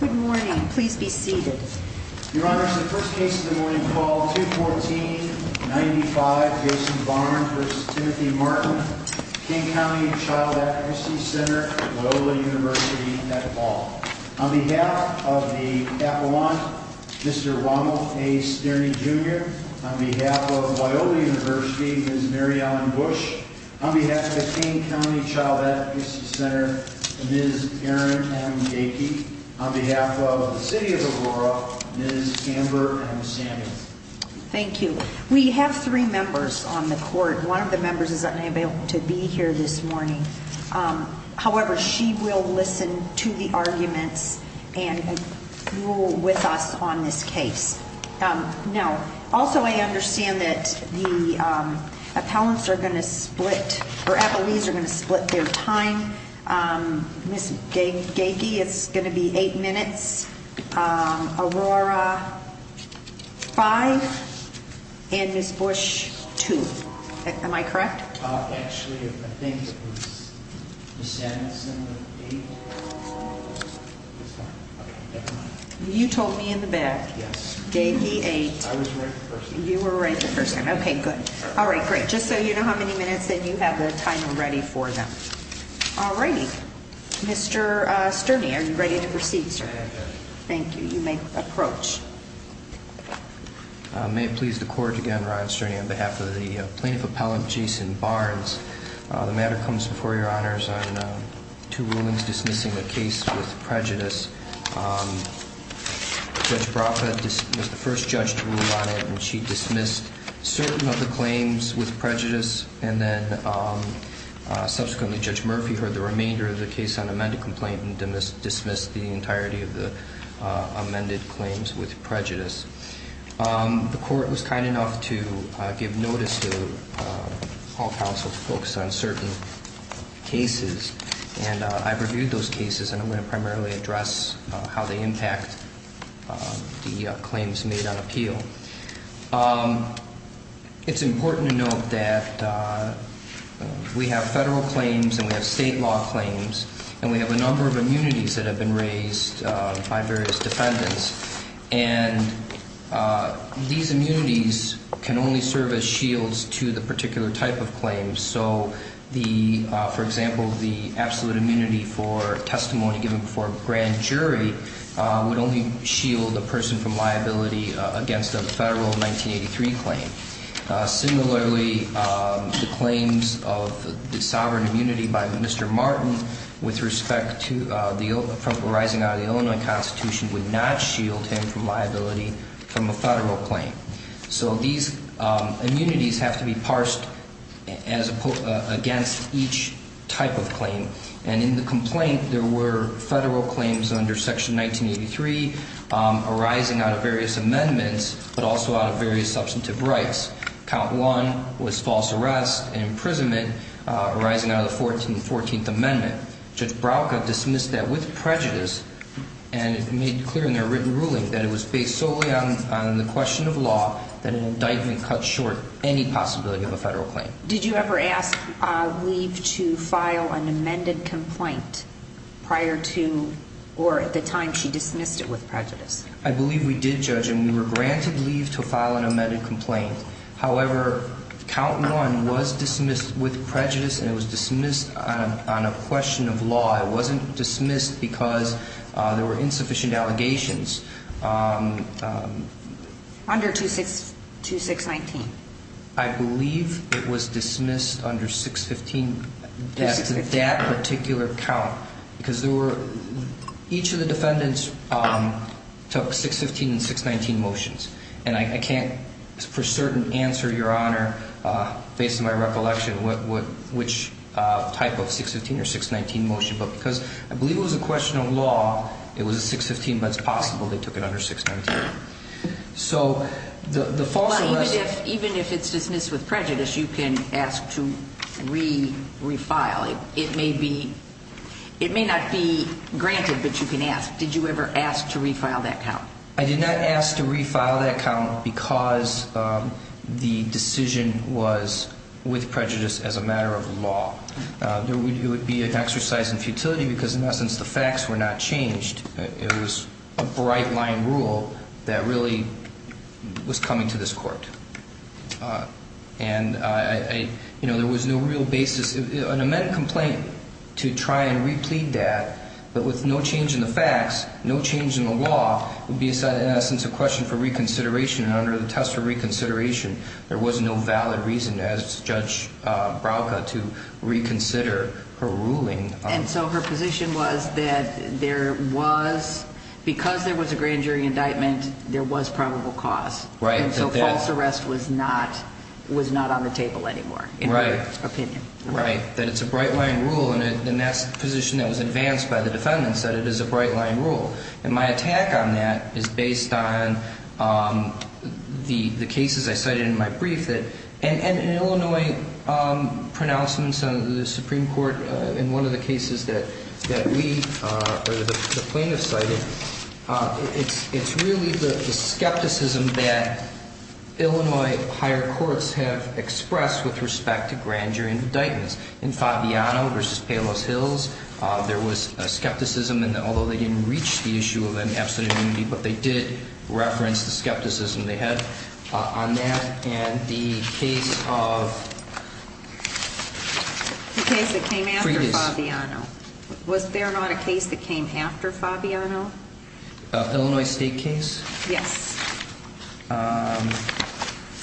Good morning. Please be seated. Your honor, the first case of the morning call to 14 95 Jason Barnes versus Timothy Martin. King County Child Advocacy Center, Loyola University at all. On behalf of the apple on Mr. Ronald A. Sterni Jr. On behalf of Loyola University is Mary Allen Bush. On behalf of the King County Child Advocacy Center, Ms. Aaron M. Yakey. On behalf of the city of Aurora, it is Amber and I'm standing. Thank you. We have three members on the court. One of the members is unavailable to be here this morning. However, she will listen to the arguments and rule with us on this case. Um, no. Also, I understand that the, um, appellants are going to split or Applebee's are going to split their time. Um, Miss Gay, Gay, Gay. It's going to be eight minutes. Um, Aurora five and Miss Bush to Am I correct? Actually, I think you told me in the back gave the eight. You were right. The first time. Okay, good. All right. Great. Just so you know how many minutes that you have the time and ready for them. All right. Mr Sterni, are you ready to proceed? Thank you. You may approach. May it please the court again, Ron Sterni on behalf of the plaintiff appellant, Jason Barnes. The matter comes before your honors on two rulings dismissing the case with prejudice. Um, Judge Baraka was the first judge to rule on it and she dismissed certain of the claims with prejudice and then, um, subsequently Judge Murphy heard the remainder of the case on amended complaint and dismissed the entirety of the, uh, amended claims with prejudice. Um, the court was kind enough to give notice to, uh, all counsel to focus on certain cases and I've reviewed those cases and I'm going to primarily address how they impact, uh, the claims made on appeal. Um, it's important to note that, uh, we have federal claims and we have state law claims and we have a number of immunities that have been raised, uh, by various defendants and, uh, these immunities can only serve as shields to the particular type of claims. So the, uh, for example, the absolute immunity for testimony given before a grand jury, uh, would only shield a person from liability, uh, against a federal 1983 claim. Uh, similarly, um, the claims of the sovereign immunity by Mr. Martin with respect to, uh, the, uh, from arising out of the Illinois constitution would not shield him from liability from a federal claim. So these, um, immunities have to be parsed as opposed, uh, against each type of claim. And in the complaint, there were federal claims under section 1983, um, arising out of various amendments, but also out of various substantive rights. Count one was false arrest and imprisonment, uh, arising out of the 14th amendment. Judge Browka dismissed that with prejudice and made clear in their written ruling that it was based solely on, on the question of law, that an indictment cut short any possibility of a federal claim. Did you ever ask, uh, Liev to file an amended complaint prior to, or at the time she dismissed it with prejudice? I believe we did judge and we were granted Liev to file an amended complaint. However, count one was dismissed with prejudice and it was dismissed on a question of law. It wasn't dismissed because, uh, there were insufficient allegations, um, um. Under 26, 2619. I believe it was dismissed under 615, that particular count, because there were each of the defendants, um, took 615 and 619 motions. And I can't for certain answer your honor, uh, based on my recollection, what, what, which, uh, type of 615 or 619 motion, but because I believe it was a question of law, it was a 615, but it's possible they took it under 619. So the, the false, even if it's dismissed with prejudice, you can ask to re refile it. It may be, it may not be granted, but you can ask, did you ever ask to refile that count? I did not ask to refile that count because, um, the decision was with prejudice as a matter of law. Uh, there would, it would be an exercise in futility because in essence, the facts were not changed. It was a bright line rule that really was coming to this court. Uh, and, uh, I, you know, there was no real basis, an amendment complaint to try and replete that, but with no change in the facts, no change in the law would be a set in essence, a question for reconsideration. And under the test of reconsideration, there was no valid reason as judge, uh, Bravo to reconsider her ruling. And so her position was that there was, because there was a grand jury indictment, there was probable cause. Right. And so false arrest was not, was not on the table anymore. Right. In her opinion. Right. That it's a bright line rule. And that's the position that was advanced by the defendants, that it is a bright line rule. And my attack on that is based on, um, the, the cases I cited in my brief that, and, and in Illinois, um, pronouncements on the Supreme court, uh, in one of the cases that, that we, uh, or the plaintiff cited, uh, it's, it's really the skepticism that Illinois higher courts have expressed with respect to grand jury indictments. In Fabiano versus Palos Hills, uh, there was a skepticism in the, although they didn't reach the issue of an absolute immunity, but they did reference the skepticism they had on that. And the case of the case that came after Fabiano, was there not a case that came after Fabiano? Uh, Illinois state case. Yes. Um,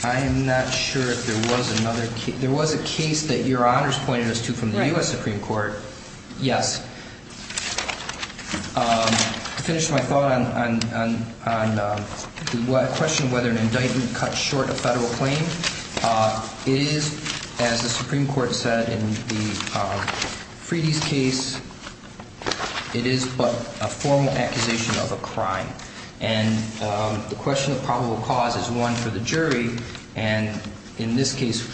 I am not sure if there was another case. There was a case that your honors pointed us to from the U S Supreme court. Yes. Um, finished my thought on, on, on, on, um, the question of whether an indictment cut short a federal claim. Uh, it is as the Supreme court said in the, uh, Freedie's case, it is a formal accusation of a crime. And, um, the question of probable cause is one for the jury. And in this case,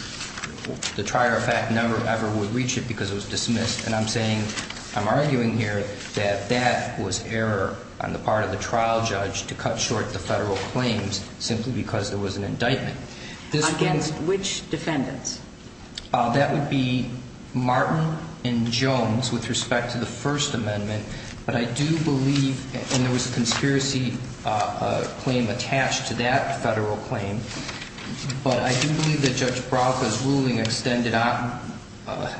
the trier of fact never, ever would reach it because it was dismissed. And I'm saying, I'm arguing here that that was error on the part of the trial judge to cut short the federal claims simply because there was an indictment. Which defendants? Uh, that would be Martin and Jones with respect to the first amendment. But I do believe, and there was a conspiracy, uh, claim attached to that federal claim. But I do believe that judge Bronco's ruling extended out, uh,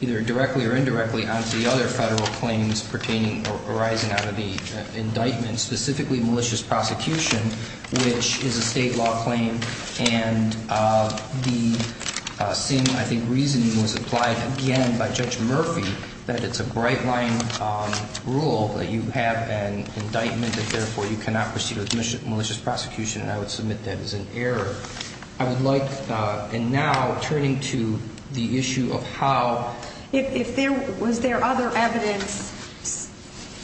either directly or indirectly onto the other federal claims pertaining or arising out of the indictment, specifically malicious prosecution, which is a state law claim. And, uh, the, uh, same, I think, reasoning was applied again by judge Murphy, that it's a bright line, um, rule that you have an indictment that therefore you cannot proceed with malicious prosecution. And I would submit that as an error. I would like, uh, and now turning to the issue of how. Was there other evidence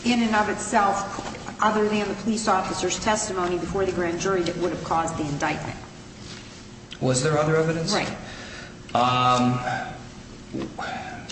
in and of itself, other than the police officer's testimony before the grand jury that would have caused the indictment? Was there other evidence? Right. Um,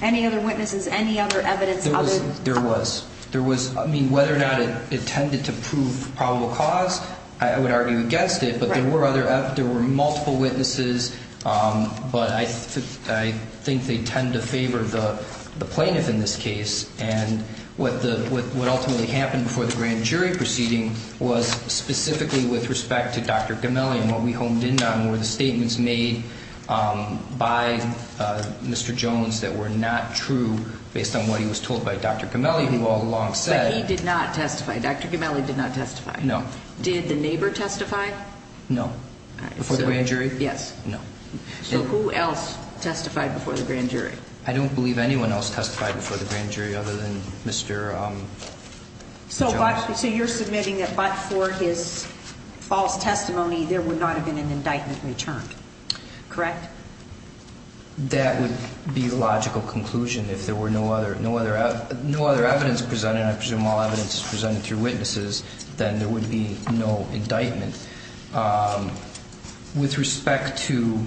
any other witnesses, any other evidence? There was, there was, there was, I mean, whether or not it tended to prove probable cause, I would argue against it, but there were other, there were multiple witnesses. Um, but I, I think they tend to favor the plaintiff in this case and what the, what ultimately happened before the grand jury proceeding was specifically with respect to Dr. Gamelli and what we honed in on were the statements made, um, by, uh, Mr. Jones that were not true based on what he was told by Dr. Gamelli, who all along said. He did not testify. Dr. Gamelli did not testify. No. Did the neighbor testify? No. Before the grand jury. Yes. No. So who else testified before the grand jury? I don't believe anyone else testified before the grand jury other than Mr. Um, so you're submitting that, but for his false testimony, there would not have been an indictment returned. Correct. That would be a logical conclusion. If there were no other, no other, no other evidence presented, I presume all evidence is presented through witnesses, then there would be no indictment. Um, with respect to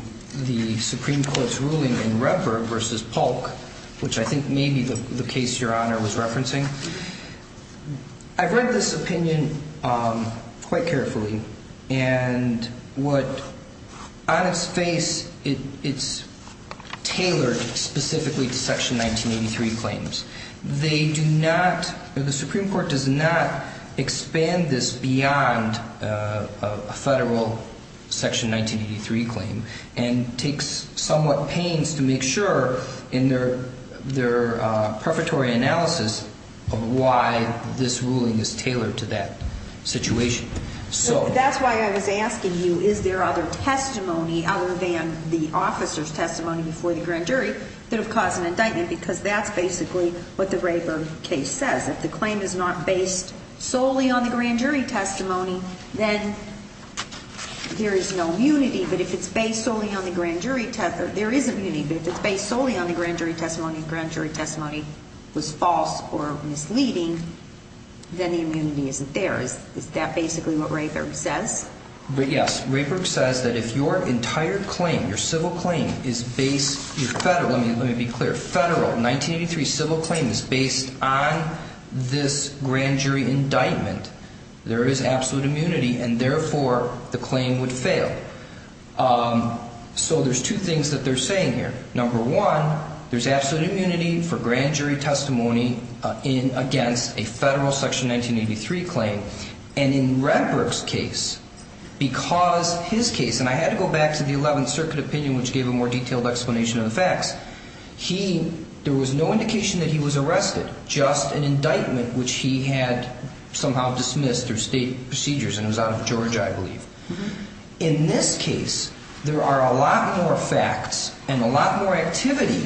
the Supreme court's ruling in rubber versus Polk, which I think may be the case your honor was referencing. I've read this opinion, um, quite carefully and what on its face, it it's tailored specifically to section 1983 claims. They do not, the Supreme court does not expand this beyond, uh, a federal section 1983 claim and takes somewhat pains to make sure in their, their, uh, preparatory analysis of why this ruling is tailored to that situation. So that's why I was asking you, is there other testimony other than the officer's testimony before the grand jury that have caused an indictment? Because that's basically what the Rayburn case says. If the claim is not based solely on the grand jury testimony, then there is no immunity. But if it's based solely on the grand jury test, there is immunity, but if it's based solely on the grand jury testimony, grand jury testimony was false or misleading, then the immunity isn't there. Is that basically what Rayburn says? Yes. Rayburg says that if your entire claim, your civil claim is based, your federal, let me, let me be clear. Federal 1983 civil claim is based on this grand jury indictment. There is absolute immunity and therefore the claim would fail. Um, so there's two things that they're saying here. Number one, there's absolute immunity for grand jury testimony in, against a federal section 1983 claim. And in Rayburg's case, because his case, and I had to go back to the 11th circuit opinion, which gave a more detailed explanation of the facts. He, there was no indication that he was arrested, just an indictment, which he had somehow dismissed or state procedures and it was out of Georgia, I believe. In this case, there are a lot more facts and a lot more activity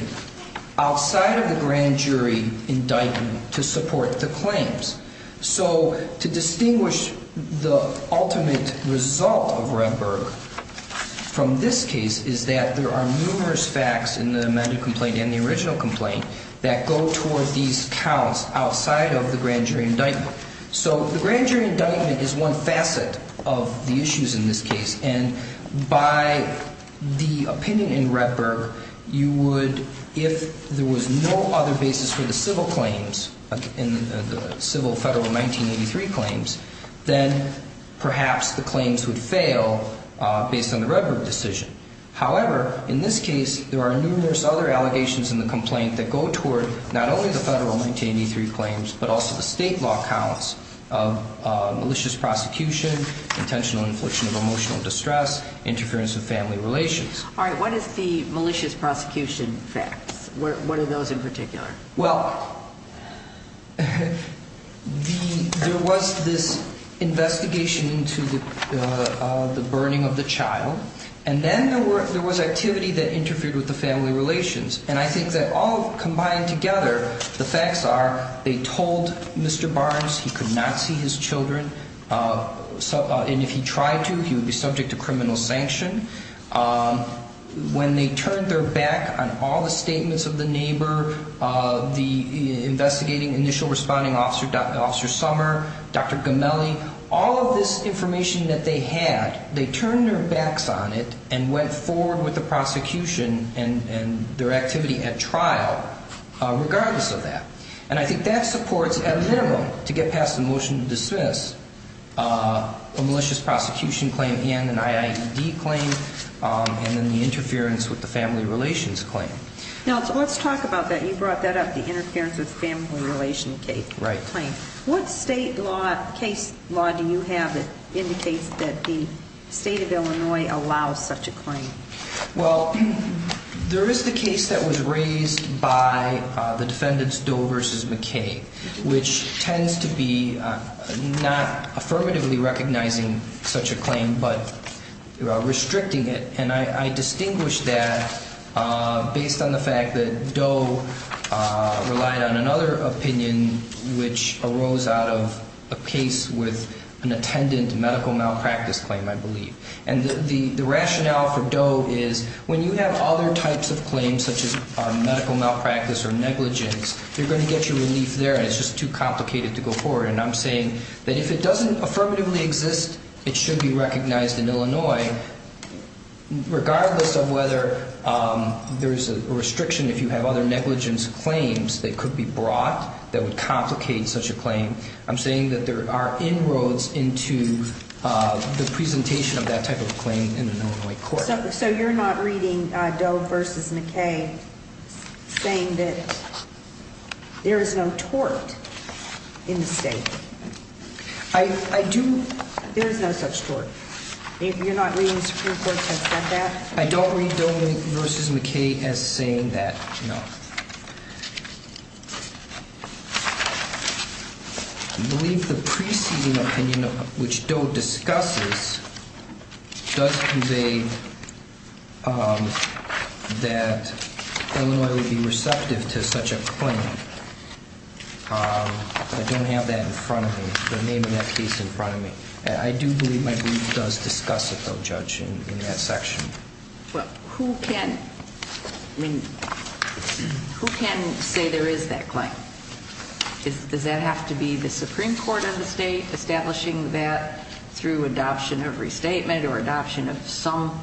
outside of the grand jury indictment to support the claims. So to distinguish the ultimate result of Rayburg from this case is that there are numerous facts in the amended complaint and the original complaint that go towards these counts outside of the grand jury indictment. So the grand jury indictment is one facet of the issues in this case. And by the opinion in Rayburg, you would, if there was no other basis for the civil claims in the civil federal 1983 claims, then perhaps the claims would fail, uh, based on the Rayburg decision. However, in this case, there are numerous other allegations in the complaint that go toward not only the federal 1983 claims, but also the state law counts of malicious prosecution, intentional infliction of emotional distress, interference with family relations. All right. What is the malicious prosecution facts? What are those in particular? Well, the, there was this investigation into the, uh, uh, the burning of the child. And then there were, there was activity that interfered with the family relations. And I think that all combined together, the facts are they told Mr. Barnes, he could not see his children. Uh, so, uh, and if he tried to, he would be subject to criminal sanction. Um, when they turned their back on all the statements of the neighbor, uh, the investigating initial responding officer, officer summer, Dr. Gamelli, all of this information that they had, they turned their backs on it and went forward with the prosecution and, and their activity at trial, uh, regardless of that. And I think that supports at a minimum to get past the motion to dismiss, uh, a malicious prosecution claim and an IID claim. Um, and then the interference with the family relations claim. Now, let's talk about that. You brought that up, the interference with family relation case. Right. What state law case law do you have that indicates that the state of Illinois allows such a claim? Well, there is the case that was raised by, uh, the defendants Doe versus McKay, which tends to be, uh, not affirmatively recognizing such a claim, but restricting it. And I, I distinguish that, uh, based on the fact that Doe, uh, relied on another opinion, which arose out of a case with an attendant medical malpractice claim, I believe. And the, the, the rationale for Doe is when you have other types of claims, such as medical malpractice or negligence, you're going to get your relief there. And it's just too complicated to go forward. And I'm saying that if it doesn't affirmatively exist, it should be recognized in Illinois, regardless of whether, um, there is a restriction if you have other negligence claims that could be brought that would complicate such a claim. I'm saying that there are inroads into, uh, the presentation of that type of claim in an Illinois court. So you're not reading, uh, Doe versus McKay saying that there is no tort in the state? I, I do. There is no such tort. You're not reading the Supreme Court to accept that? I don't read Doe versus McKay as saying that. No. I believe the preceding opinion, which Doe discusses, does convey, um, that Illinois would be receptive to such a claim. Um, I don't have that in front of me, the name of that case in front of me. I do believe my brief does discuss it, though, Judge, in, in that section. Well, who can, I mean, who can say there is that claim? Is, does that have to be the Supreme Court of the state establishing that through adoption of restatement or adoption of some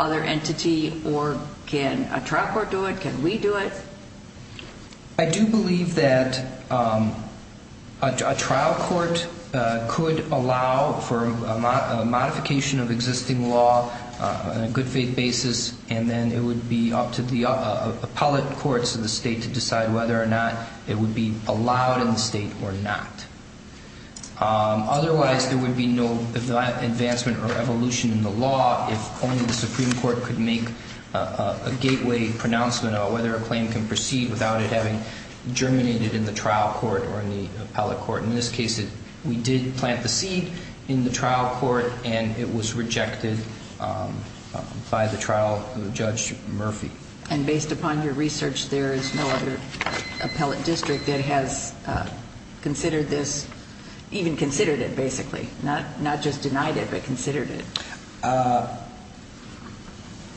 other entity? Or can a trial court do it? Can we do it? I do believe that, um, a, a trial court, uh, could allow for a modification of existing law, uh, on a good faith basis, and then it would be up to the, uh, appellate courts of the state to decide whether or not it would be allowed in the state or not. Um, otherwise, there would be no advancement or evolution in the law if only the Supreme Court could make a, a, a gateway pronouncement on whether a claim can proceed without it having germinated in the trial court or in the appellate court. In this case, it, we did plant the seed in the trial court, and it was rejected, um, by the trial, Judge Murphy. And based upon your research, there is no other appellate district that has, uh, considered this, even considered it, basically. Not, not just denied it, but considered it. Uh,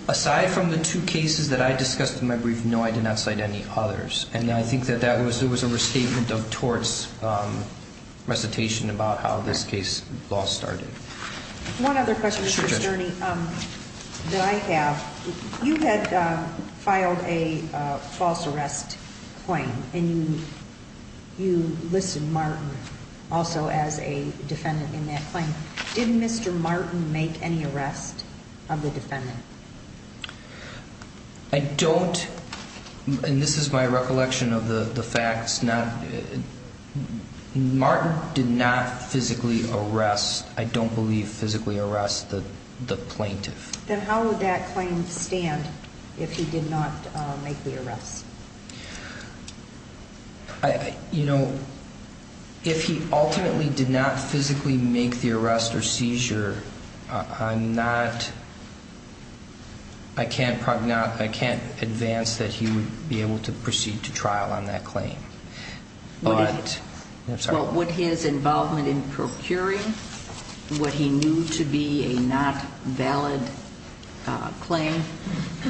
aside from the two cases that I discussed in my brief, no, I did not cite any others. And I think that that was, it was a restatement of torts, um, recitation about how this case, law started. One other question, Mr. Sterni, um, that I have. You had, uh, filed a, uh, false arrest claim, and you, you listed Martin also as a defendant in that claim. Did Mr. Martin make any arrest of the defendant? I don't, and this is my recollection of the, the facts, not, Martin did not physically arrest, I don't believe, physically arrest the, the plaintiff. Then how would that claim stand if he did not, uh, make the arrest? I, you know, if he ultimately did not physically make the arrest or seizure, uh, I'm not, I can't prog, not, I can't advance that he would be able to proceed to trial on that claim. But would his involvement in procuring what he knew to be a not valid, uh, claim,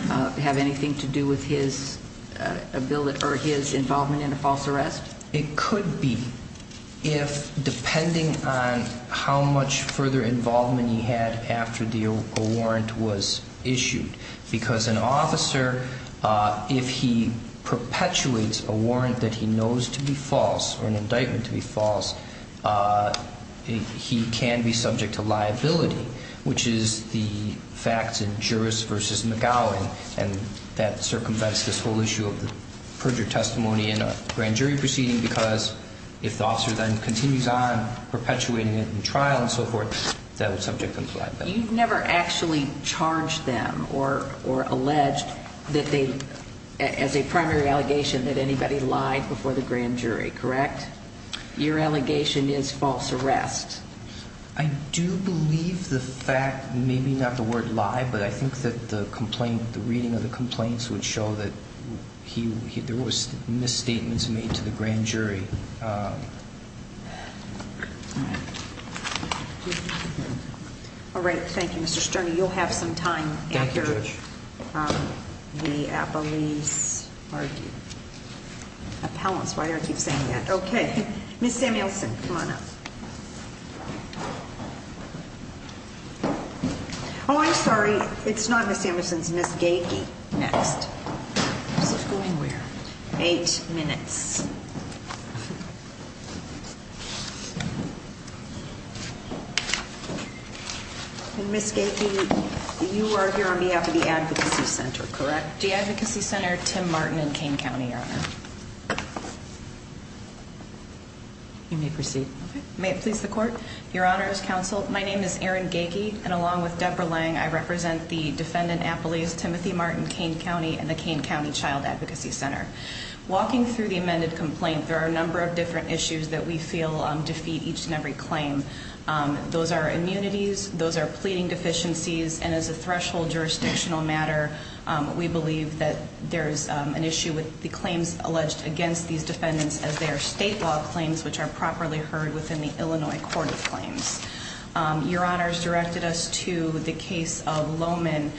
uh, have anything to do with his, uh, ability or his involvement in a false arrest? It could be if, depending on how much further involvement he had after the, a warrant was issued. Because an officer, uh, if he perpetuates a warrant that he knows to be false, or an indictment to be false, uh, he can be subject to liability, which is the facts in Juris v. McGowan. And that circumvents this whole issue of the perjured testimony in a grand jury proceeding because if the officer then continues on perpetuating it in trial and so forth, that would subject them to liability. You've never actually charged them or, or alleged that they, as a primary allegation, that anybody lied before the grand jury, correct? Your allegation is false arrest. I do believe the fact, maybe not the word lie, but I think that the complaint, the reading of the complaints would show that he, he, there was misstatements made to the grand jury. All right. All right. Thank you, Mr. Sterney. Thank you, Judge. The appellees argue. Appellants, why do I keep saying that? Okay. Ms. Samuelson, come on up. Oh, I'm sorry. It's not Ms. Samuelson. It's Ms. Gagey. Next. This is going where? Eight minutes. Ms. Gagey, you are here on behalf of the Advocacy Center, correct? The Advocacy Center, Tim Martin and Kane County, Your Honor. You may proceed. May it please the court. Your Honor, as counsel, my name is Erin Gagey, and along with Deborah Lang, I represent the defendant appellees, Timothy Martin, Kane County, and the Kane County Child Advocacy Center. Walking through the amended complaint, there are a number of different issues that we feel defeat each and every claim. Those are immunities, those are pleading deficiencies, and as a threshold jurisdictional matter, we believe that there is an issue with the claims alleged against these defendants as they are state law claims which are properly heard within the Illinois Court of Claims. Your Honor has directed us to the case of Lohman,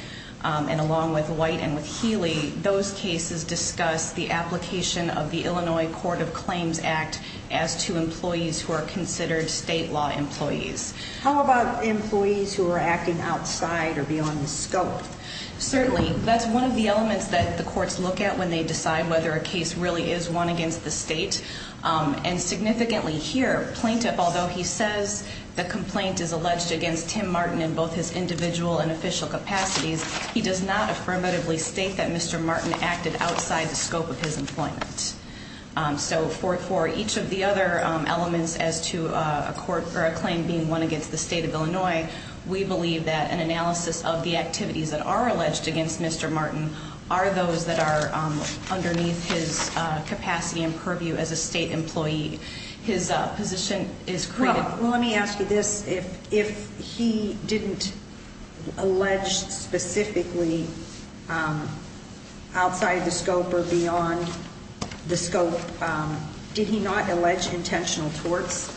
and along with White and with Healy, those cases discuss the application of the Illinois Court of Claims Act as to employees who are considered state law employees. How about employees who are acting outside or beyond the scope? Certainly. That's one of the elements that the courts look at when they decide whether a case really is one against the state. And significantly here, plaintiff, although he says the complaint is alleged against Tim Martin in both his individual and official capacities, he does not affirmatively state that Mr. Martin acted outside the scope of his employment. So for each of the other elements as to a claim being one against the state of Illinois, we believe that an analysis of the activities that are alleged against Mr. Martin are those that are underneath his capacity and purview as a state employee. His position is created. Well, let me ask you this. If he didn't allege specifically outside the scope or beyond the scope, did he not allege intentional torts?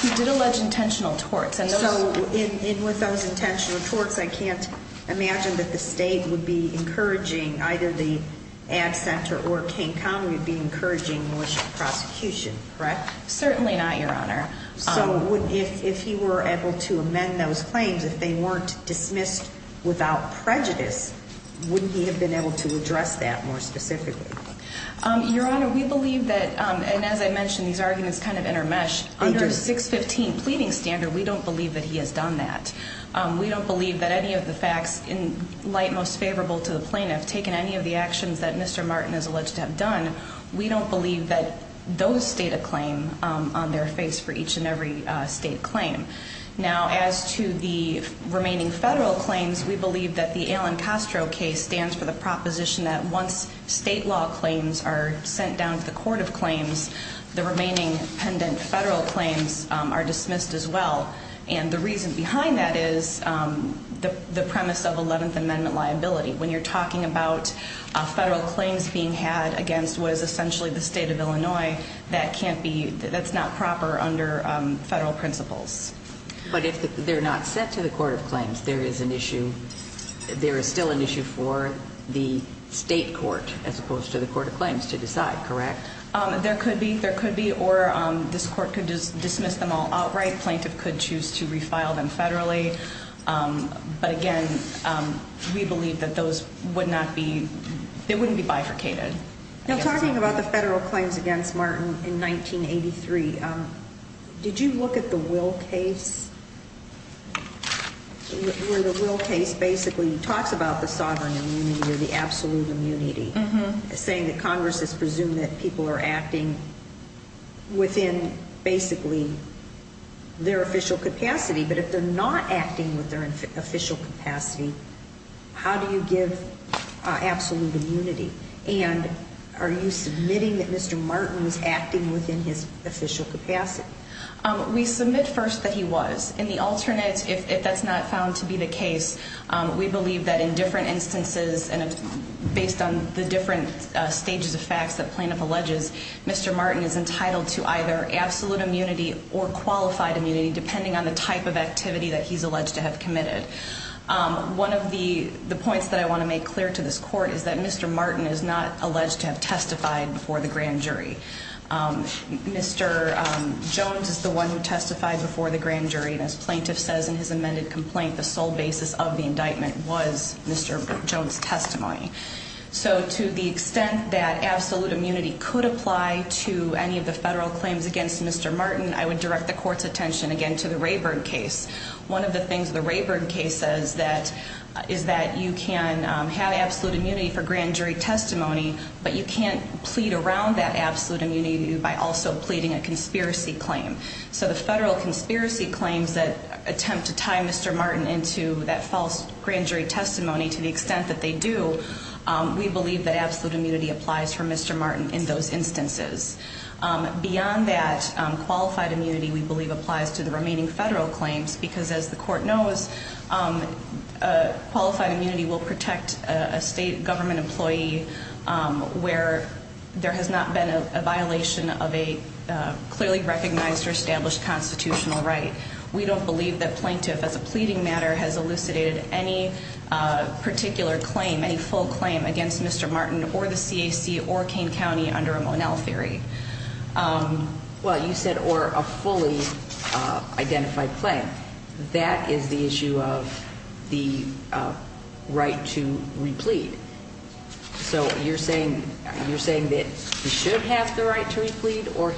He did allege intentional torts. So with those intentional torts, I can't imagine that the state would be encouraging either the Ad Center or King County would be encouraging more prosecution, correct? Certainly not, Your Honor. So if he were able to amend those claims, if they weren't dismissed without prejudice, wouldn't he have been able to address that more specifically? Your Honor, we believe that, and as I mentioned, these arguments kind of intermesh. Under the 615 pleading standard, we don't believe that he has done that. We don't believe that any of the facts in light most favorable to the plaintiff, taken any of the actions that Mr. Martin is alleged to have done, we don't believe that those state a claim on their face for each and every state claim. Now, as to the remaining federal claims, we believe that the Allen Castro case stands for the proposition that once state law claims are sent down to the court of claims, the remaining pendant federal claims are dismissed as well. And the reason behind that is the premise of 11th Amendment liability. When you're talking about federal claims being had against what is essentially the state of Illinois, that can't be, that's not proper under federal principles. But if they're not sent to the court of claims, there is an issue, there is still an issue for the state court as opposed to the court of claims to decide, correct? There could be, there could be, or this court could dismiss them all outright. Plaintiff could choose to refile them federally. But again, we believe that those would not be, they wouldn't be bifurcated. Now, talking about the federal claims against Martin in 1983, did you look at the will case? The will case basically talks about the sovereign immunity or the absolute immunity, saying that Congress has presumed that people are acting within basically their official capacity. But if they're not acting with their official capacity, how do you give absolute immunity? And are you submitting that Mr. Martin was acting within his official capacity? We submit first that he was. In the alternate, if that's not found to be the case, we believe that in different instances and based on the different stages of facts that plaintiff alleges, Mr. Martin is entitled to either absolute immunity or qualified immunity depending on the type of activity that he's alleged to have committed. One of the points that I want to make clear to this court is that Mr. Martin is not alleged to have testified before the grand jury. Mr. Jones is the one who testified before the grand jury. And as plaintiff says in his amended complaint, the sole basis of the indictment was Mr. Jones' testimony. So to the extent that absolute immunity could apply to any of the federal claims against Mr. Martin, I would direct the court's attention again to the Rayburn case. One of the things the Rayburn case says is that you can have absolute immunity for grand jury testimony, but you can't plead around that absolute immunity by also pleading a conspiracy claim. So the federal conspiracy claims that attempt to tie Mr. Martin into that false grand jury testimony to the extent that they do, we believe that absolute immunity applies for Mr. Martin in those instances. Beyond that, qualified immunity we believe applies to the remaining federal claims because as the court knows, qualified immunity will protect a state government employee where there has not been a violation of a clearly recognized or established constitutional right. We don't believe that plaintiff as a pleading matter has elucidated any particular claim, any full claim against Mr. Martin or the CAC or Kane County under a Monell theory. Well, you said or a fully identified claim. That is the issue of the right to replead. So you're saying that he should have the right to replead or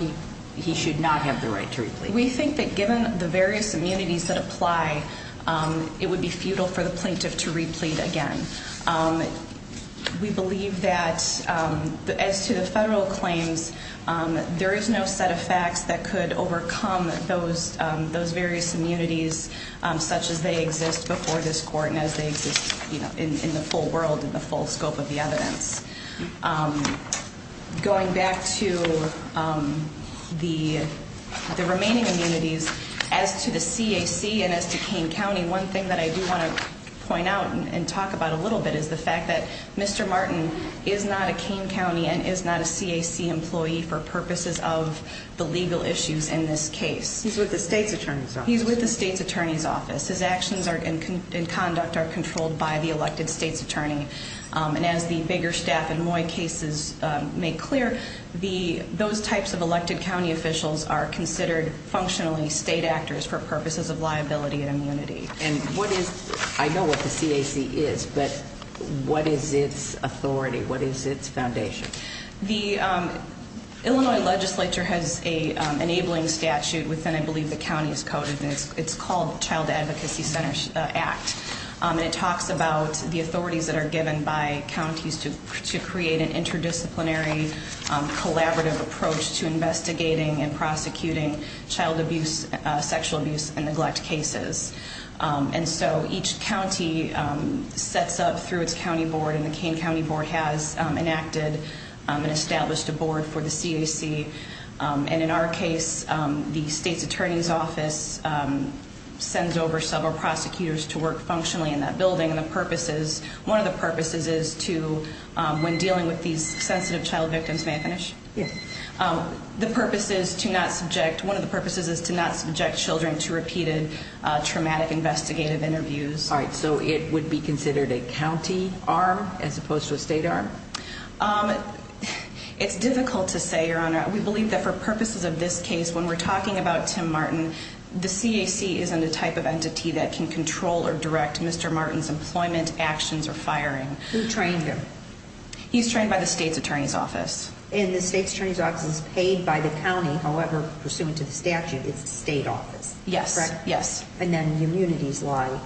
he should not have the right to replead? We think that given the various immunities that apply, it would be futile for the plaintiff to replead again. We believe that as to the federal claims, there is no set of facts that could overcome those various immunities, such as they exist before this court and as they exist in the full world, in the full scope of the evidence. Going back to the remaining immunities, as to the CAC and as to Kane County, one thing that I do want to point out and talk about a little bit is the fact that Mr. Martin is not a Kane County and is not a CAC employee for purposes of the legal issues in this case. He's with the state's attorney's office. He's with the state's attorney's office. And as the Bigger, Staff, and Moy cases make clear, those types of elected county officials are considered functionally state actors for purposes of liability and immunity. And what is, I know what the CAC is, but what is its authority? What is its foundation? The Illinois legislature has an enabling statute within, I believe, the county's code, and it's called the Child Advocacy Center Act. And it talks about the authorities that are given by counties to create an interdisciplinary, collaborative approach to investigating and prosecuting child abuse, sexual abuse, and neglect cases. And so each county sets up through its county board, and the Kane County board has enacted and established a board for the CAC. And in our case, the state's attorney's office sends over several prosecutors to work functionally in that building. And the purpose is, one of the purposes is to, when dealing with these sensitive child victims, may I finish? Yes. The purpose is to not subject, one of the purposes is to not subject children to repeated traumatic investigative interviews. All right, so it would be considered a county arm as opposed to a state arm? It's difficult to say, Your Honor. We believe that for purposes of this case, when we're talking about Tim Martin, the CAC isn't a type of entity that can control or direct Mr. Martin's employment, actions, or firing. Who trained him? He's trained by the state's attorney's office. And the state's attorney's office is paid by the county, however, pursuant to the statute, it's the state office? Yes. Correct? Yes. And then the immunities lie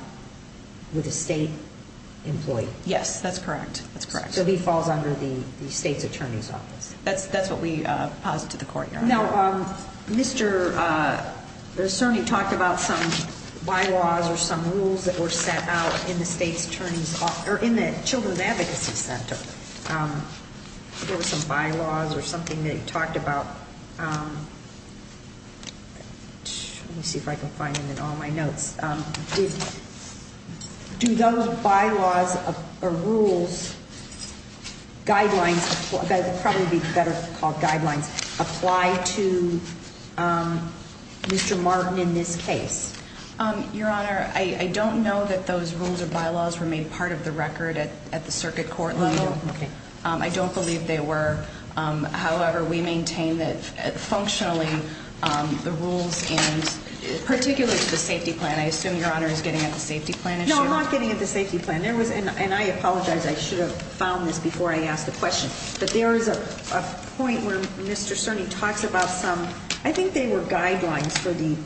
with a state employee? Yes, that's correct. So he falls under the state's attorney's office? That's what we posit to the court, Your Honor. Now, Mr. Cerny talked about some bylaws or some rules that were set out in the state's attorney's office, or in the Children's Advocacy Center. There were some bylaws or something that he talked about. Let me see if I can find them in all my notes. Do those bylaws or rules, guidelines, that would probably be better called guidelines, apply to Mr. Martin in this case? Your Honor, I don't know that those rules or bylaws were made part of the record at the circuit court level. I don't believe they were. However, we maintain that, functionally, the rules, and particularly to the safety plan, I assume Your Honor is getting at the safety plan issue. No, I'm not getting at the safety plan. And I apologize, I should have found this before I asked the question. But there is a point where Mr. Cerny talks about some, I think they were guidelines for the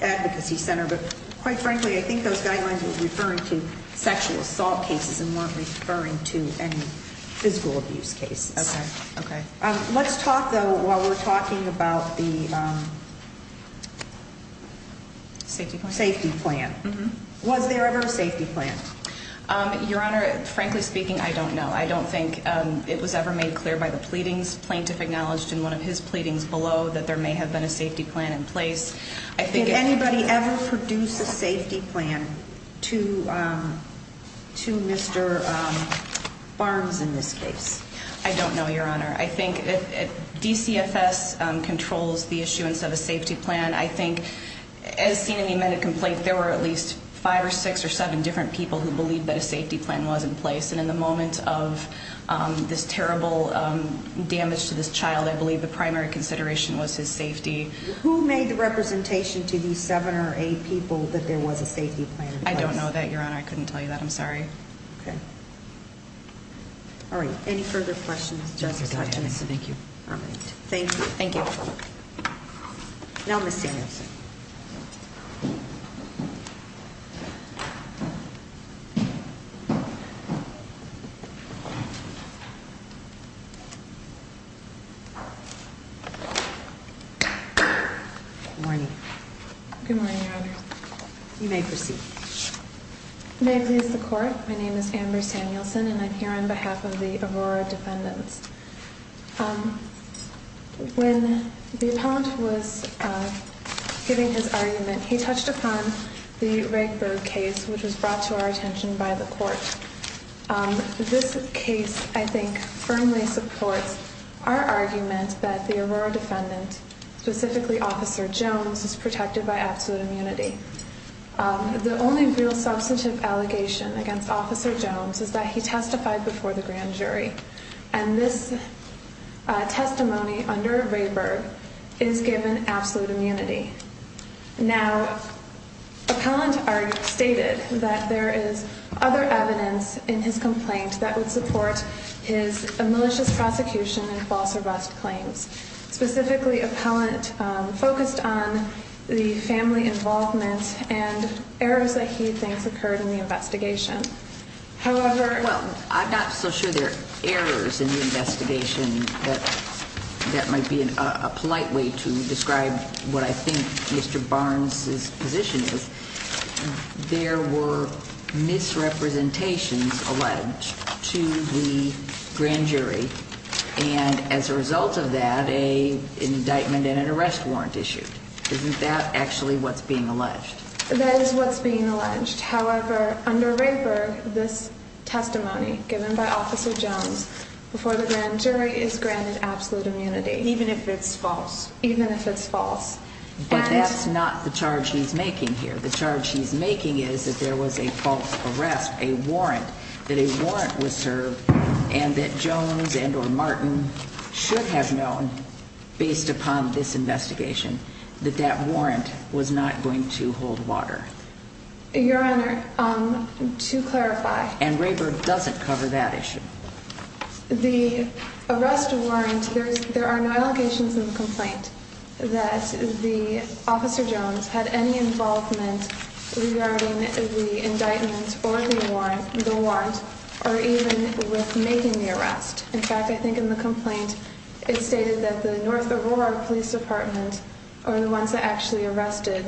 advocacy center, but quite frankly, I think those guidelines were referring to sexual assault cases and weren't referring to any physical abuse cases. Let's talk, though, while we're talking about the safety plan. Was there ever a safety plan? Your Honor, frankly speaking, I don't know. I don't think it was ever made clear by the pleadings. Plaintiff acknowledged in one of his pleadings below that there may have been a safety plan in place. Did anybody ever produce a safety plan to Mr. Barnes in this case? I don't know, Your Honor. I think DCFS controls the issuance of a safety plan. I think, as seen in the amended complaint, there were at least five or six or seven different people who believed that a safety plan was in place. And in the moment of this terrible damage to this child, I believe the primary consideration was his safety. Who made the representation to these seven or eight people that there was a safety plan in place? I don't know that, Your Honor. I couldn't tell you that. I'm sorry. Okay. All right. Any further questions? Justice Hutchinson. Thank you. Thank you. Thank you. Now Ms. Samuelson. Good morning. Good morning, Your Honor. You may proceed. May it please the Court. My name is Amber Samuelson, and I'm here on behalf of the Aurora Defendants. When the appellant was giving his argument, he touched upon the Rakeberg case, which was brought to our attention by the Court. This case, I think, firmly supports our argument that the Aurora Defendant, specifically Officer Jones, is protected by absolute immunity. The only real substantive allegation against Officer Jones is that he testified before the grand jury. And this testimony under Rakeberg is given absolute immunity. Now, appellant stated that there is other evidence in his complaint that would support his malicious prosecution and false arrest claims. Specifically, appellant focused on the family involvement and errors that he thinks occurred in the investigation. However... Well, I'm not so sure there are errors in the investigation. That might be a polite way to describe what I think Mr. Barnes' position is. There were misrepresentations alleged to the grand jury. And as a result of that, an indictment and an arrest warrant issued. Isn't that actually what's being alleged? That is what's being alleged. However, under Rakeberg, this testimony given by Officer Jones before the grand jury is granted absolute immunity. Even if it's false? Even if it's false. But that's not the charge he's making here. The charge he's making is that there was a false arrest, a warrant. That a warrant was served and that Jones and or Martin should have known, based upon this investigation, that that warrant was not going to hold water. Your Honor, to clarify... And Rakeberg doesn't cover that issue. The arrest warrant... There are no allegations in the complaint that Officer Jones had any involvement regarding the indictment or the warrant or even with making the arrest. In fact, I think in the complaint it stated that the North Aurora Police Department are the ones that actually arrested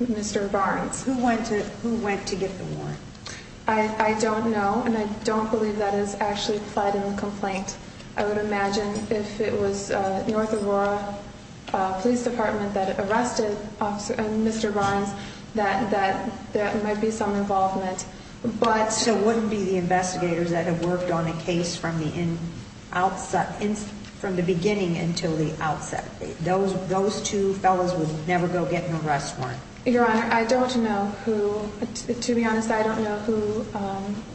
Mr. Barnes. Who went to get the warrant? I don't know and I don't believe that is actually applied in the complaint. I would imagine if it was North Aurora Police Department that arrested Mr. Barnes, that there might be some involvement. So it wouldn't be the investigators that have worked on the case from the beginning until the outset. Those two fellows would never go get an arrest warrant. Your Honor, I don't know who... To be honest, I don't know who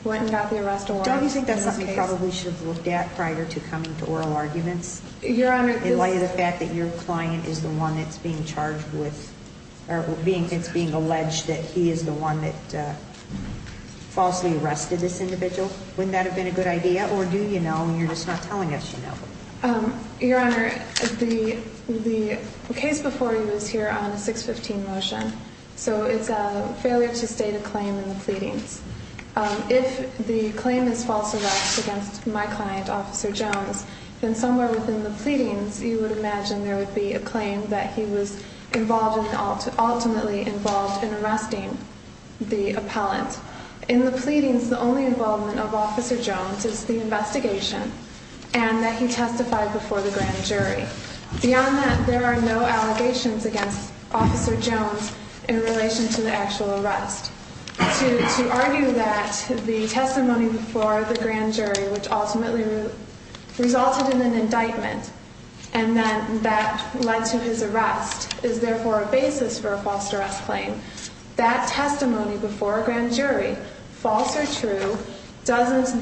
went and got the arrest warrant. Don't you think that's something we probably should have looked at prior to coming to oral arguments? In light of the fact that your client is the one that's being charged with... It's being alleged that he is the one that falsely arrested this individual? Wouldn't that have been a good idea? Or do you know and you're just not telling us you know? Your Honor, the case before you is here on a 615 motion. So it's a failure to state a claim in the pleadings. If the claim is false arrest against my client, Officer Jones, then somewhere within the pleadings, you would imagine there would be a claim that he was ultimately involved in arresting the appellant. In the pleadings, the only involvement of Officer Jones is the investigation and that he testified before the grand jury. Beyond that, there are no allegations against Officer Jones in relation to the actual arrest. To argue that the testimony before the grand jury, which ultimately resulted in an indictment, and then that led to his arrest, is therefore a basis for a false arrest claim. That testimony before a grand jury, false or true, is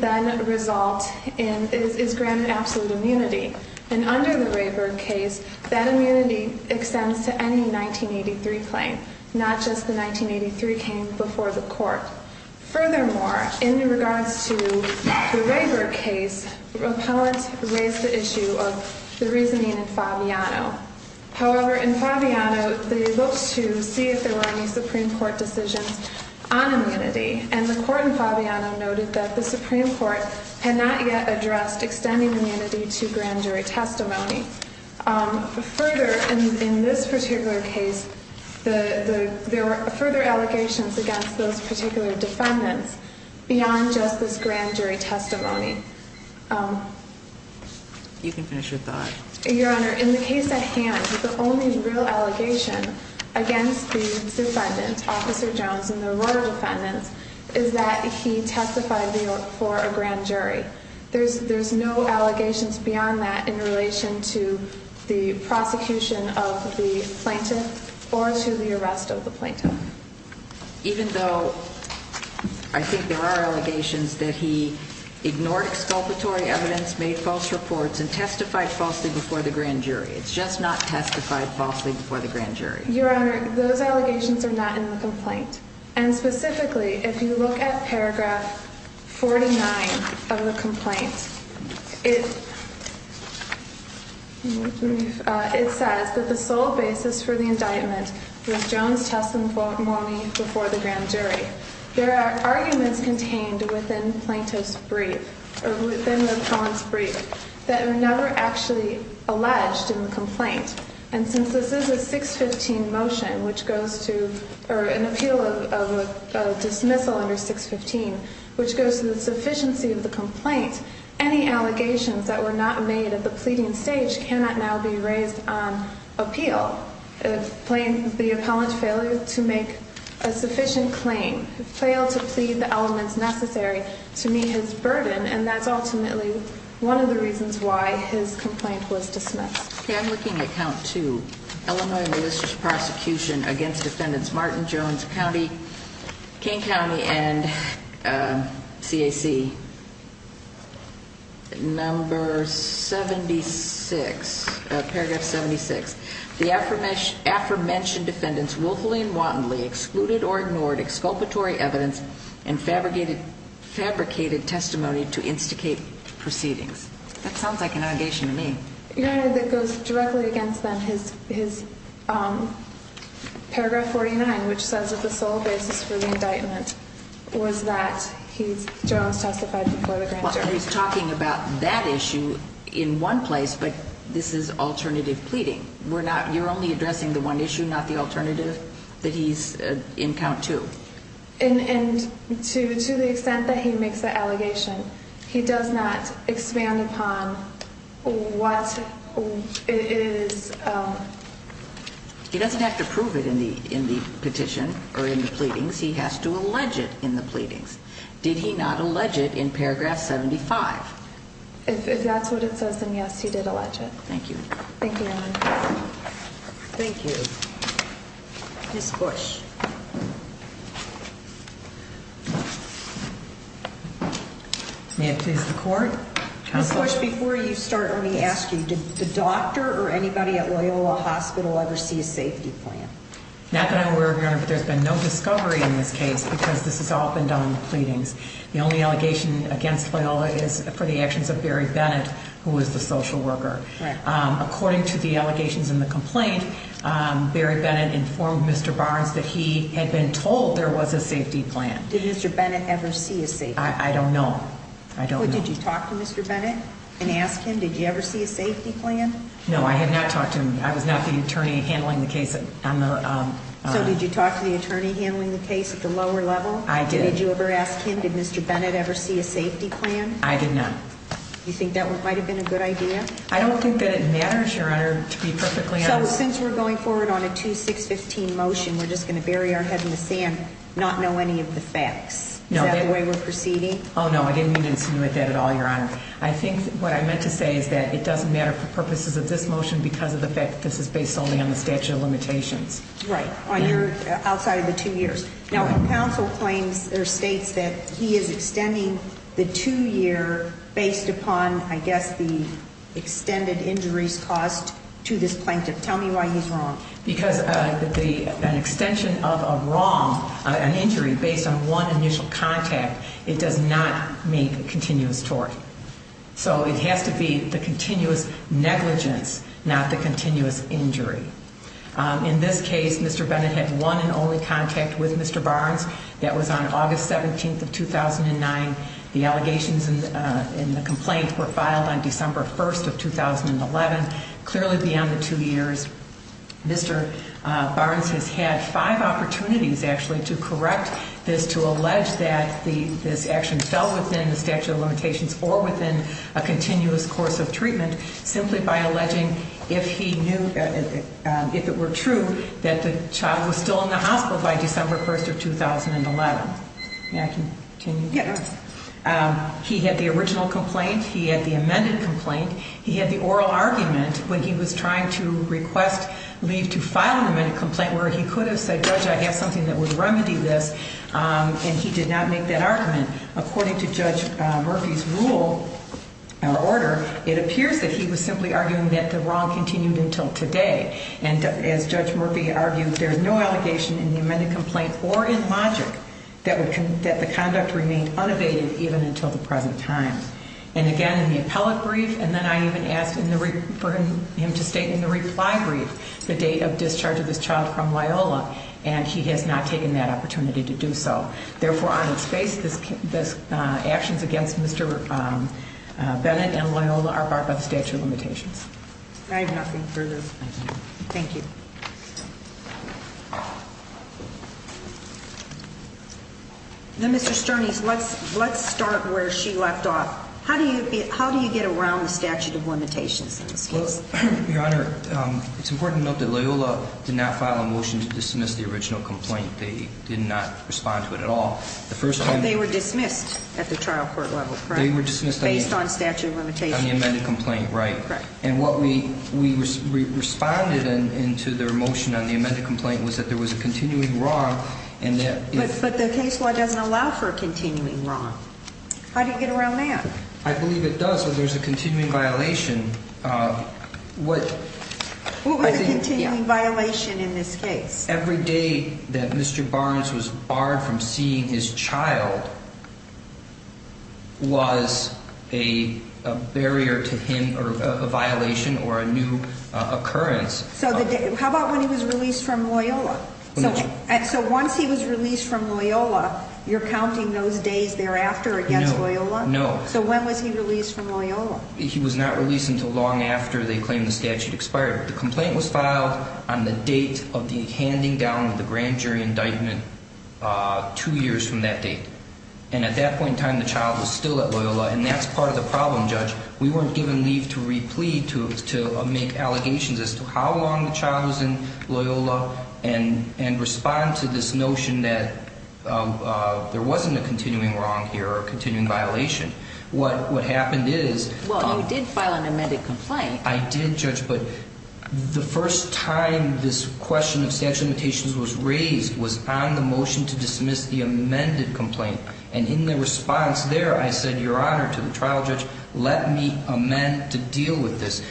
granted absolute immunity. And under the Rayburg case, that immunity extends to any 1983 claim. Not just the 1983 claim before the court. Furthermore, in regards to the Rayburg case, the appellant raised the issue of the reasoning in Fabiano. However, in Fabiano, they looked to see if there were any Supreme Court decisions on immunity. And the court in Fabiano noted that the Supreme Court had not yet addressed extending immunity to grand jury testimony. Further, in this particular case, there were further allegations against those particular defendants beyond just this grand jury testimony. You can finish your thought. Your Honor, in the case at hand, the only real allegation against the defendants, Officer Jones and the royal defendants, is that he testified before a grand jury. There's no allegations beyond that in relation to the prosecution of the plaintiff or to the arrest of the plaintiff. Even though I think there are allegations that he ignored exculpatory evidence, made false reports, and testified falsely before the grand jury. It's just not testified falsely before the grand jury. Your Honor, those allegations are not in the complaint. And specifically, if you look at paragraph 49 of the complaint, it says that the sole basis for the indictment was Jones testimony before the grand jury. There are arguments contained within the plaintiff's brief, or within the appellant's brief, that were never actually alleged in the complaint. And since this is a 615 motion, which goes to an appeal of dismissal under 615, which goes to the sufficiency of the complaint, any allegations that were not made at the pleading stage cannot now be raised on appeal. The appellant failed to make a sufficient claim, failed to plead the elements necessary to meet his burden, and that's ultimately one of the reasons why his complaint was dismissed. Okay, I'm looking at count two. Illinois Militia Prosecution against Defendants Martin, Jones County, King County, and CAC. Number 76, paragraph 76. The aforementioned defendants willfully and wantonly excluded or ignored exculpatory evidence and fabricated testimony to instigate proceedings. That sounds like an allegation to me. Your Honor, that goes directly against then his paragraph 49, which says that the sole basis for the indictment was that Jones testified before the grand jury. He's talking about that issue in one place, but this is alternative pleading. You're only addressing the one issue, not the alternative that he's in count two. And to the extent that he makes the allegation, he does not expand upon what it is. He doesn't have to prove it in the petition or in the pleadings. He has to allege it in the pleadings. Did he not allege it in paragraph 75? If that's what it says, then yes, he did allege it. Thank you. Thank you, Your Honor. Thank you. Ms. Bush. May it please the court. Ms. Bush, before you start, let me ask you, did the doctor or anybody at Loyola Hospital ever see a safety plan? Not that I'm aware of, Your Honor, but there's been no discovery in this case because this has all been done in the pleadings. The only allegation against Loyola is for the actions of Barry Bennett, who was the social worker. According to the allegations in the complaint, Barry Bennett informed Mr. Barnes that he had been told there was a safety plan. Did Mr. Bennett ever see a safety plan? I don't know. I don't know. Did you talk to Mr. Bennett and ask him, did you ever see a safety plan? No, I had not talked to him. I was not the attorney handling the case. So did you talk to the attorney handling the case at the lower level? I did. Did you ever ask him, did Mr. Bennett ever see a safety plan? I did not. Do you think that might have been a good idea? I don't think that it matters, Your Honor, to be perfectly honest. So since we're going forward on a 2-6-15 motion, we're just going to bury our head in the sand, not know any of the facts. Is that the way we're proceeding? Oh, no, I didn't mean to insinuate that at all, Your Honor. I think what I meant to say is that it doesn't matter for purposes of this motion because of the fact that this is based solely on the statute of limitations. Right, outside of the two years. Now, counsel claims or states that he is extending the two-year based upon, I guess, the extended injuries caused to this plaintiff. Tell me why he's wrong. Because an extension of a wrong, an injury based on one initial contact, it does not make continuous tort. So it has to be the continuous negligence, not the continuous injury. In this case, Mr. Bennett had one and only contact with Mr. Barnes. That was on August 17th of 2009. The allegations in the complaint were filed on December 1st of 2011, clearly beyond the two years. Mr. Barnes has had five opportunities, actually, to correct this, to allege that this action fell within the statute of limitations or within a continuous course of treatment simply by alleging if he knew, if it were true, that the child was still in the hospital by December 1st of 2011. May I continue? Yes. He had the original complaint. He had the amended complaint. He had the oral argument when he was trying to request leave to file an amended complaint where he could have said, Judge, I have something that would remedy this, and he did not make that argument. According to Judge Murphy's rule or order, it appears that he was simply arguing that the wrong continued until today. And as Judge Murphy argued, there is no allegation in the amended complaint or in logic that the conduct remained unabated even until the present time. And again, in the appellate brief, and then I even asked for him to state in the reply brief the date of discharge of this child from Loyola, and he has not taken that opportunity to do so. Therefore, on its face, the actions against Mr. Bennett and Loyola are barred by the statute of limitations. I have nothing further. Thank you. Thank you. Now, Mr. Sternies, let's start where she left off. How do you get around the statute of limitations in this case? Your Honor, it's important to note that Loyola did not file a motion to dismiss the original complaint. They did not respond to it at all. They were dismissed at the trial court level, correct? They were dismissed. Based on statute of limitations. On the amended complaint, right. Correct. And what we responded into their motion on the amended complaint was that there was a continuing wrong. But the case law doesn't allow for a continuing wrong. How do you get around that? I believe it does, but there's a continuing violation. What was the continuing violation in this case? Every day that Mr. Barnes was barred from seeing his child was a barrier to him or a violation or a new occurrence. How about when he was released from Loyola? Once he was released from Loyola, you're counting those days thereafter against Loyola? No. So when was he released from Loyola? He was not released until long after they claimed the statute expired. The complaint was filed on the date of the handing down of the grand jury indictment two years from that date. And at that point in time, the child was still at Loyola, and that's part of the problem, Judge. We weren't given leave to replead, to make allegations as to how long the child was in Loyola and respond to this notion that there wasn't a continuing wrong here or a continuing violation. What happened is- Well, you did file an amended complaint. I did, Judge. But the first time this question of statute of limitations was raised was on the motion to dismiss the amended complaint. And in the response there, I said, Your Honor, to the trial judge, let me amend to deal with this.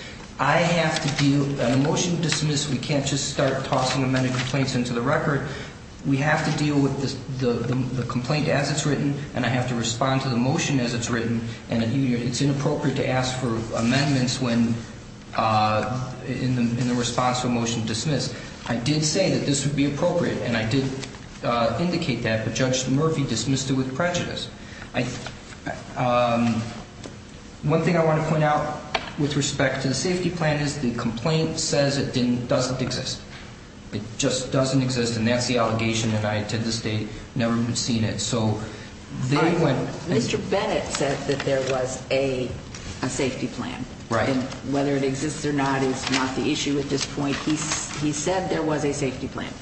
I have to deal- On a motion to dismiss, we can't just start tossing amended complaints into the record. We have to deal with the complaint as it's written, and I have to respond to the motion as it's written. And it's inappropriate to ask for amendments in the response to a motion to dismiss. I did say that this would be appropriate, and I did indicate that, but Judge Murphy dismissed it with prejudice. One thing I want to point out with respect to the safety plan is the complaint says it doesn't exist. It just doesn't exist, and that's the allegation, and I, to this day, never have seen it. Mr. Bennett said that there was a safety plan. Right. And whether it exists or not is not the issue at this point. He said there was a safety plan.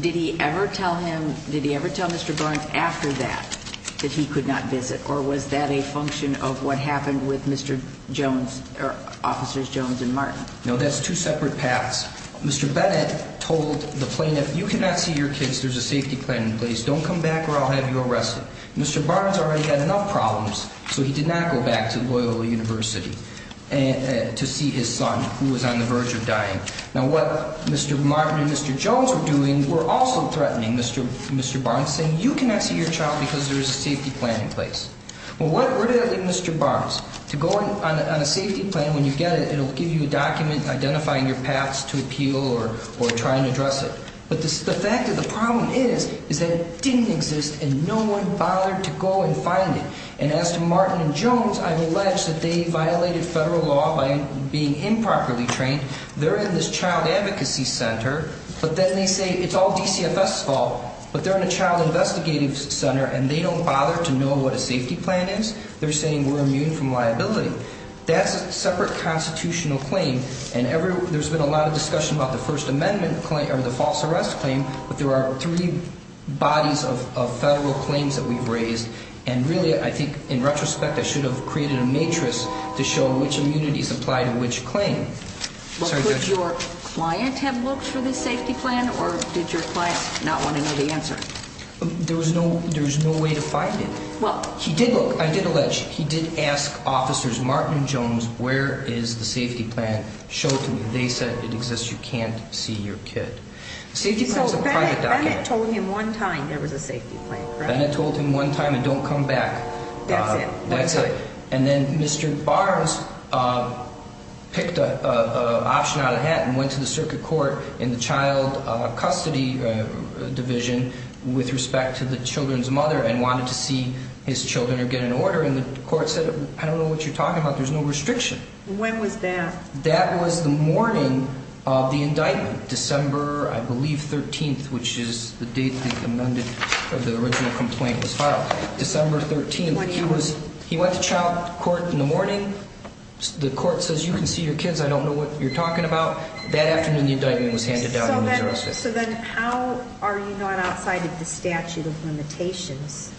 Did he ever tell him, did he ever tell Mr. Barnes after that that he could not visit, or was that a function of what happened with Mr. Jones, or Officers Jones and Martin? No, that's two separate paths. Mr. Bennett told the plaintiff, you cannot see your kids. There's a safety plan in place. Don't come back, or I'll have you arrested. Mr. Barnes already had enough problems, so he did not go back to Loyola University to see his son, who was on the verge of dying. Now, what Mr. Martin and Mr. Jones were doing were also threatening Mr. Barnes, saying, you cannot see your child because there is a safety plan in place. Well, where did that leave Mr. Barnes? To go on a safety plan, when you get it, it will give you a document identifying your paths to appeal or try and address it. But the fact of the problem is, is that it didn't exist, and no one bothered to go and find it. And as to Martin and Jones, I'm alleged that they violated federal law by being improperly trained. They're in this child advocacy center, but then they say it's all DCFS' fault, but they're in a child investigative center, and they don't bother to know what a safety plan is. They're saying we're immune from liability. That's a separate constitutional claim, and there's been a lot of discussion about the First Amendment claim, or the false arrest claim, but there are three bodies of federal claims that we've raised, and really, I think, in retrospect, I should have created a matrix to show which immunities apply to which claim. Well, could your client have looked for the safety plan, or did your client not want to know the answer? There was no way to find it. He did look. I did allege he did ask officers, Martin and Jones, where is the safety plan? Show it to me. They said it exists. You can't see your kid. The safety plan is a private document. So Bennett told him one time there was a safety plan, correct? Bennett told him one time, and don't come back. That's it. That's it. And then Mr. Barnes picked an option out of a hat and went to the circuit court in the child custody division with respect to the children's mother and wanted to see his children again in order, and the court said, I don't know what you're talking about. There's no restriction. When was that? That was the morning of the indictment, December, I believe, 13th, which is the date the original complaint was filed. December 13th. He went to child court in the morning. The court says you can see your kids. I don't know what you're talking about. That afternoon the indictment was handed down in Missouri State. So then how are you not outside of the statute of limitations?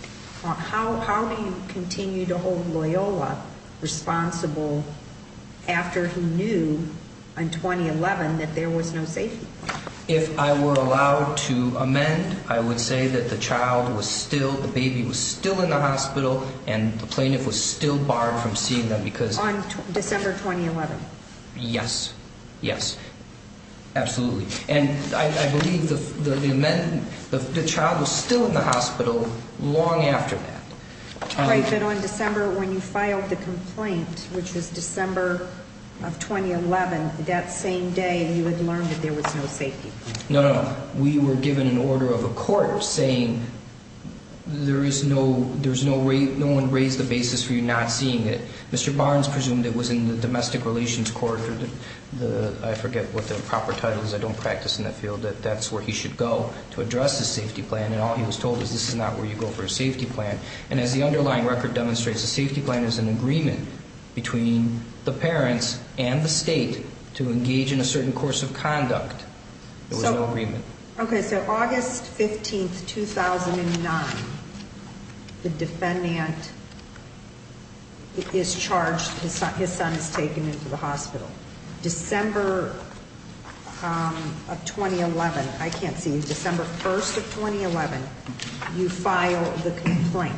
How do you continue to hold Loyola responsible after he knew in 2011 that there was no safety plan? If I were allowed to amend, I would say that the child was still, the baby was still in the hospital, and the plaintiff was still barred from seeing them because of that. On December 2011? Yes. Yes. Absolutely. Absolutely. And I believe the child was still in the hospital long after that. All right, but on December when you filed the complaint, which was December of 2011, that same day you had learned that there was no safety plan? No, no, no. We were given an order of a court saying there is no, no one raised the basis for you not seeing it. Mr. Barnes presumed it was in the Domestic Relations Court, I forget what the proper title is, I don't practice in that field, that that's where he should go to address the safety plan, and all he was told is this is not where you go for a safety plan. And as the underlying record demonstrates, the safety plan is an agreement between the parents and the state to engage in a certain course of conduct. There was no agreement. Okay, so August 15th, 2009, the defendant is charged, his son is taken into the hospital. December of 2011, I can't see, December 1st of 2011, you file the complaint.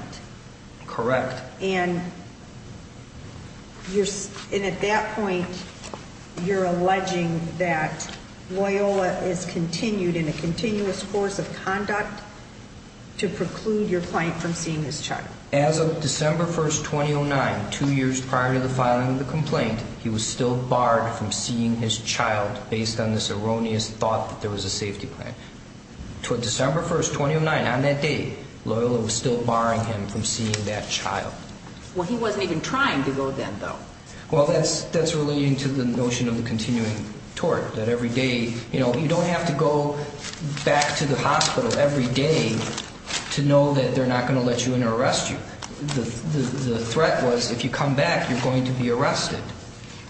Correct. And at that point, you're alleging that Loyola is continued in a continuous course of conduct to preclude your client from seeing his child? As of December 1st, 2009, two years prior to the filing of the complaint, he was still barred from seeing his child based on this erroneous thought that there was a safety plan. Toward December 1st, 2009, on that date, Loyola was still barring him from seeing that child. Well, he wasn't even trying to go then, though. Well, that's relating to the notion of the continuing tort, that every day, you know, you don't have to go back to the hospital every day to know that they're not going to let you in or arrest you. The threat was if you come back, you're going to be arrested.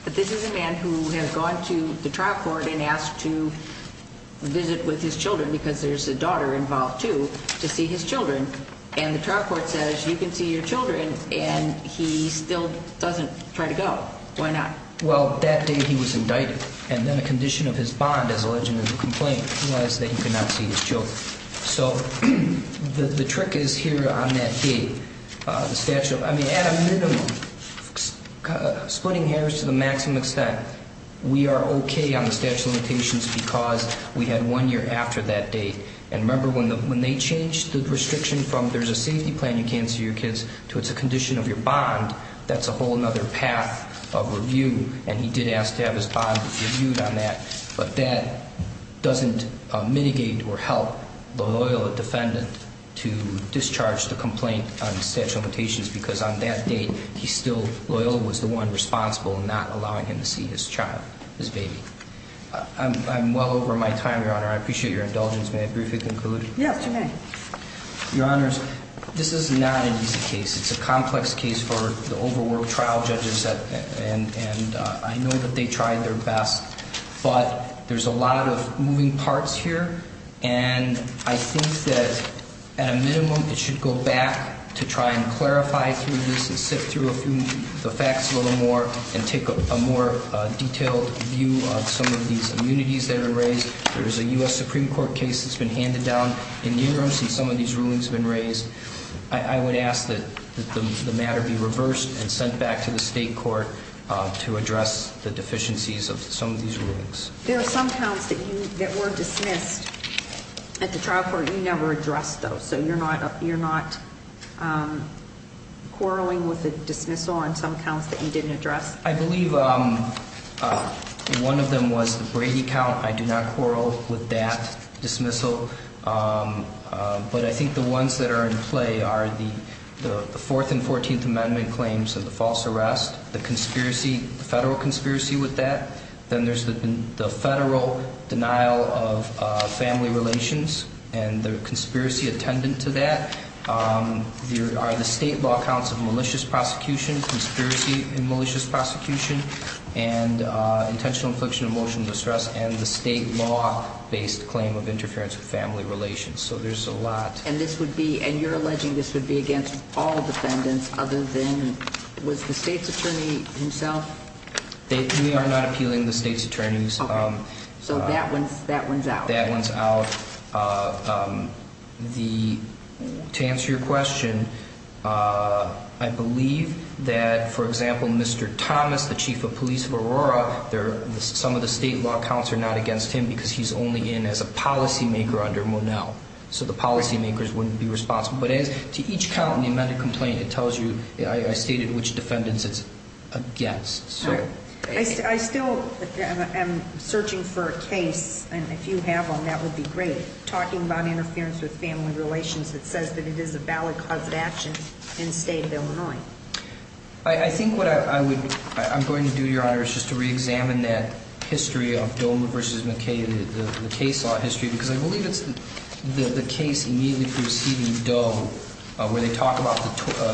But this is a man who has gone to the trial court and asked to visit with his children because there's a daughter involved, too, to see his children. And the trial court says, you can see your children, and he still doesn't try to go. Why not? Well, that day, he was indicted. And then a condition of his bond, as alleged in the complaint, was that he could not see his children. So the trick is here on that date, the statute, I mean, at a minimum, splitting hairs to the maximum extent, we are okay on the statute of limitations because we had one year after that date. And remember, when they changed the restriction from there's a safety plan, you can't see your kids, to it's a condition of your bond, that's a whole other path of review. And he did ask to have his bond reviewed on that. But that doesn't mitigate or help the Loyola defendant to discharge the complaint on the statute of limitations because on that date, he still, Loyola was the one responsible in not allowing him to see his child, his baby. I'm well over my time, Your Honor. I appreciate your indulgence. May I briefly conclude? Yes, you may. Your Honors, this is not an easy case. It's a complex case for the overworld trial judges, and I know that they tried their best. But there's a lot of moving parts here, and I think that at a minimum, it should go back to try and clarify through this and sift through the facts a little more and take a more detailed view of some of these immunities that are raised. There's a U.S. Supreme Court case that's been handed down in the interim since some of these rulings have been raised. I would ask that the matter be reversed and sent back to the state court to address the deficiencies of some of these rulings. There are some counts that were dismissed at the trial court you never addressed, though, so you're not quarreling with the dismissal on some counts that you didn't address? I believe one of them was the Brady count. I do not quarrel with that dismissal. But I think the ones that are in play are the Fourth and Fourteenth Amendment claims of the false arrest, the federal conspiracy with that, then there's the federal denial of family relations and the conspiracy attendant to that, the state law counts of malicious prosecution, conspiracy in malicious prosecution, and intentional infliction of emotional distress, and the state law-based claim of interference with family relations. So there's a lot. And this would be, and you're alleging this would be against all defendants other than, was the state's attorney himself? We are not appealing the state's attorneys. So that one's out. That one's out. To answer your question, I believe that, for example, Mr. Thomas, the chief of police of Aurora, some of the state law counts are not against him because he's only in as a policymaker under Monell. So the policymakers wouldn't be responsible. But as to each count in the amended complaint, it tells you, I stated which defendants it's against. All right. I still am searching for a case, and if you have one, that would be great, talking about interference with family relations that says that it is a valid cause of action in the state of Illinois. I think what I would, I'm going to do, Your Honor, is just to reexamine that history of Doma v. McKay and the case law history because I believe it's the case immediately preceding Doe where they talk about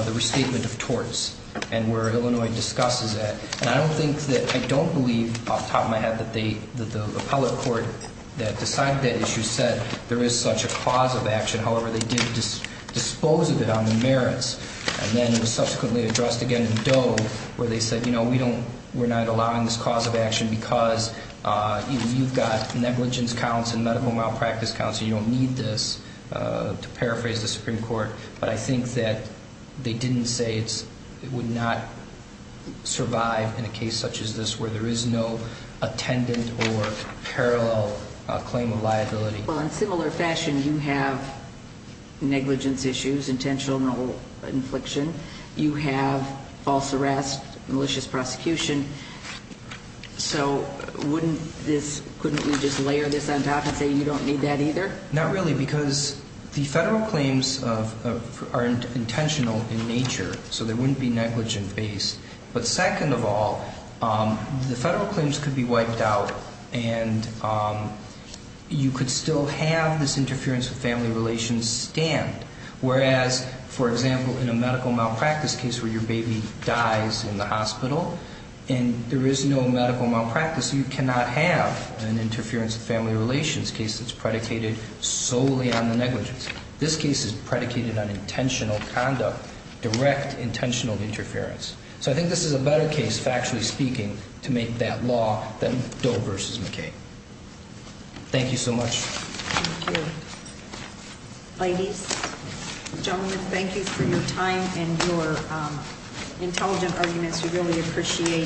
the restatement of torts and where Illinois discusses that. And I don't think that, I don't believe off the top of my head that the appellate court that decided that issue said there is such a cause of action. However, they did dispose of it on the merits. And then it was subsequently addressed again in Doe where they said, you know, negligence counts and medical malpractice counts, and you don't need this, to paraphrase the Supreme Court. But I think that they didn't say it would not survive in a case such as this where there is no attendant or parallel claim of liability. Well, in similar fashion, you have negligence issues, intentional infliction. You have false arrest, malicious prosecution. So wouldn't this, couldn't we just layer this on top and say you don't need that either? Not really, because the federal claims are intentional in nature, so they wouldn't be negligent-based. But second of all, the federal claims could be wiped out and you could still have this interference with family relations stand. Whereas, for example, in a medical malpractice case where your baby dies in the hospital and there is no medical malpractice, you cannot have an interference with family relations case that's predicated solely on the negligence. This case is predicated on intentional conduct, direct intentional interference. So I think this is a better case, factually speaking, to make that law than Doe v. McKay. Thank you so much. Thank you. Ladies, gentlemen, thank you for your time and your intelligent arguments. We really appreciate it.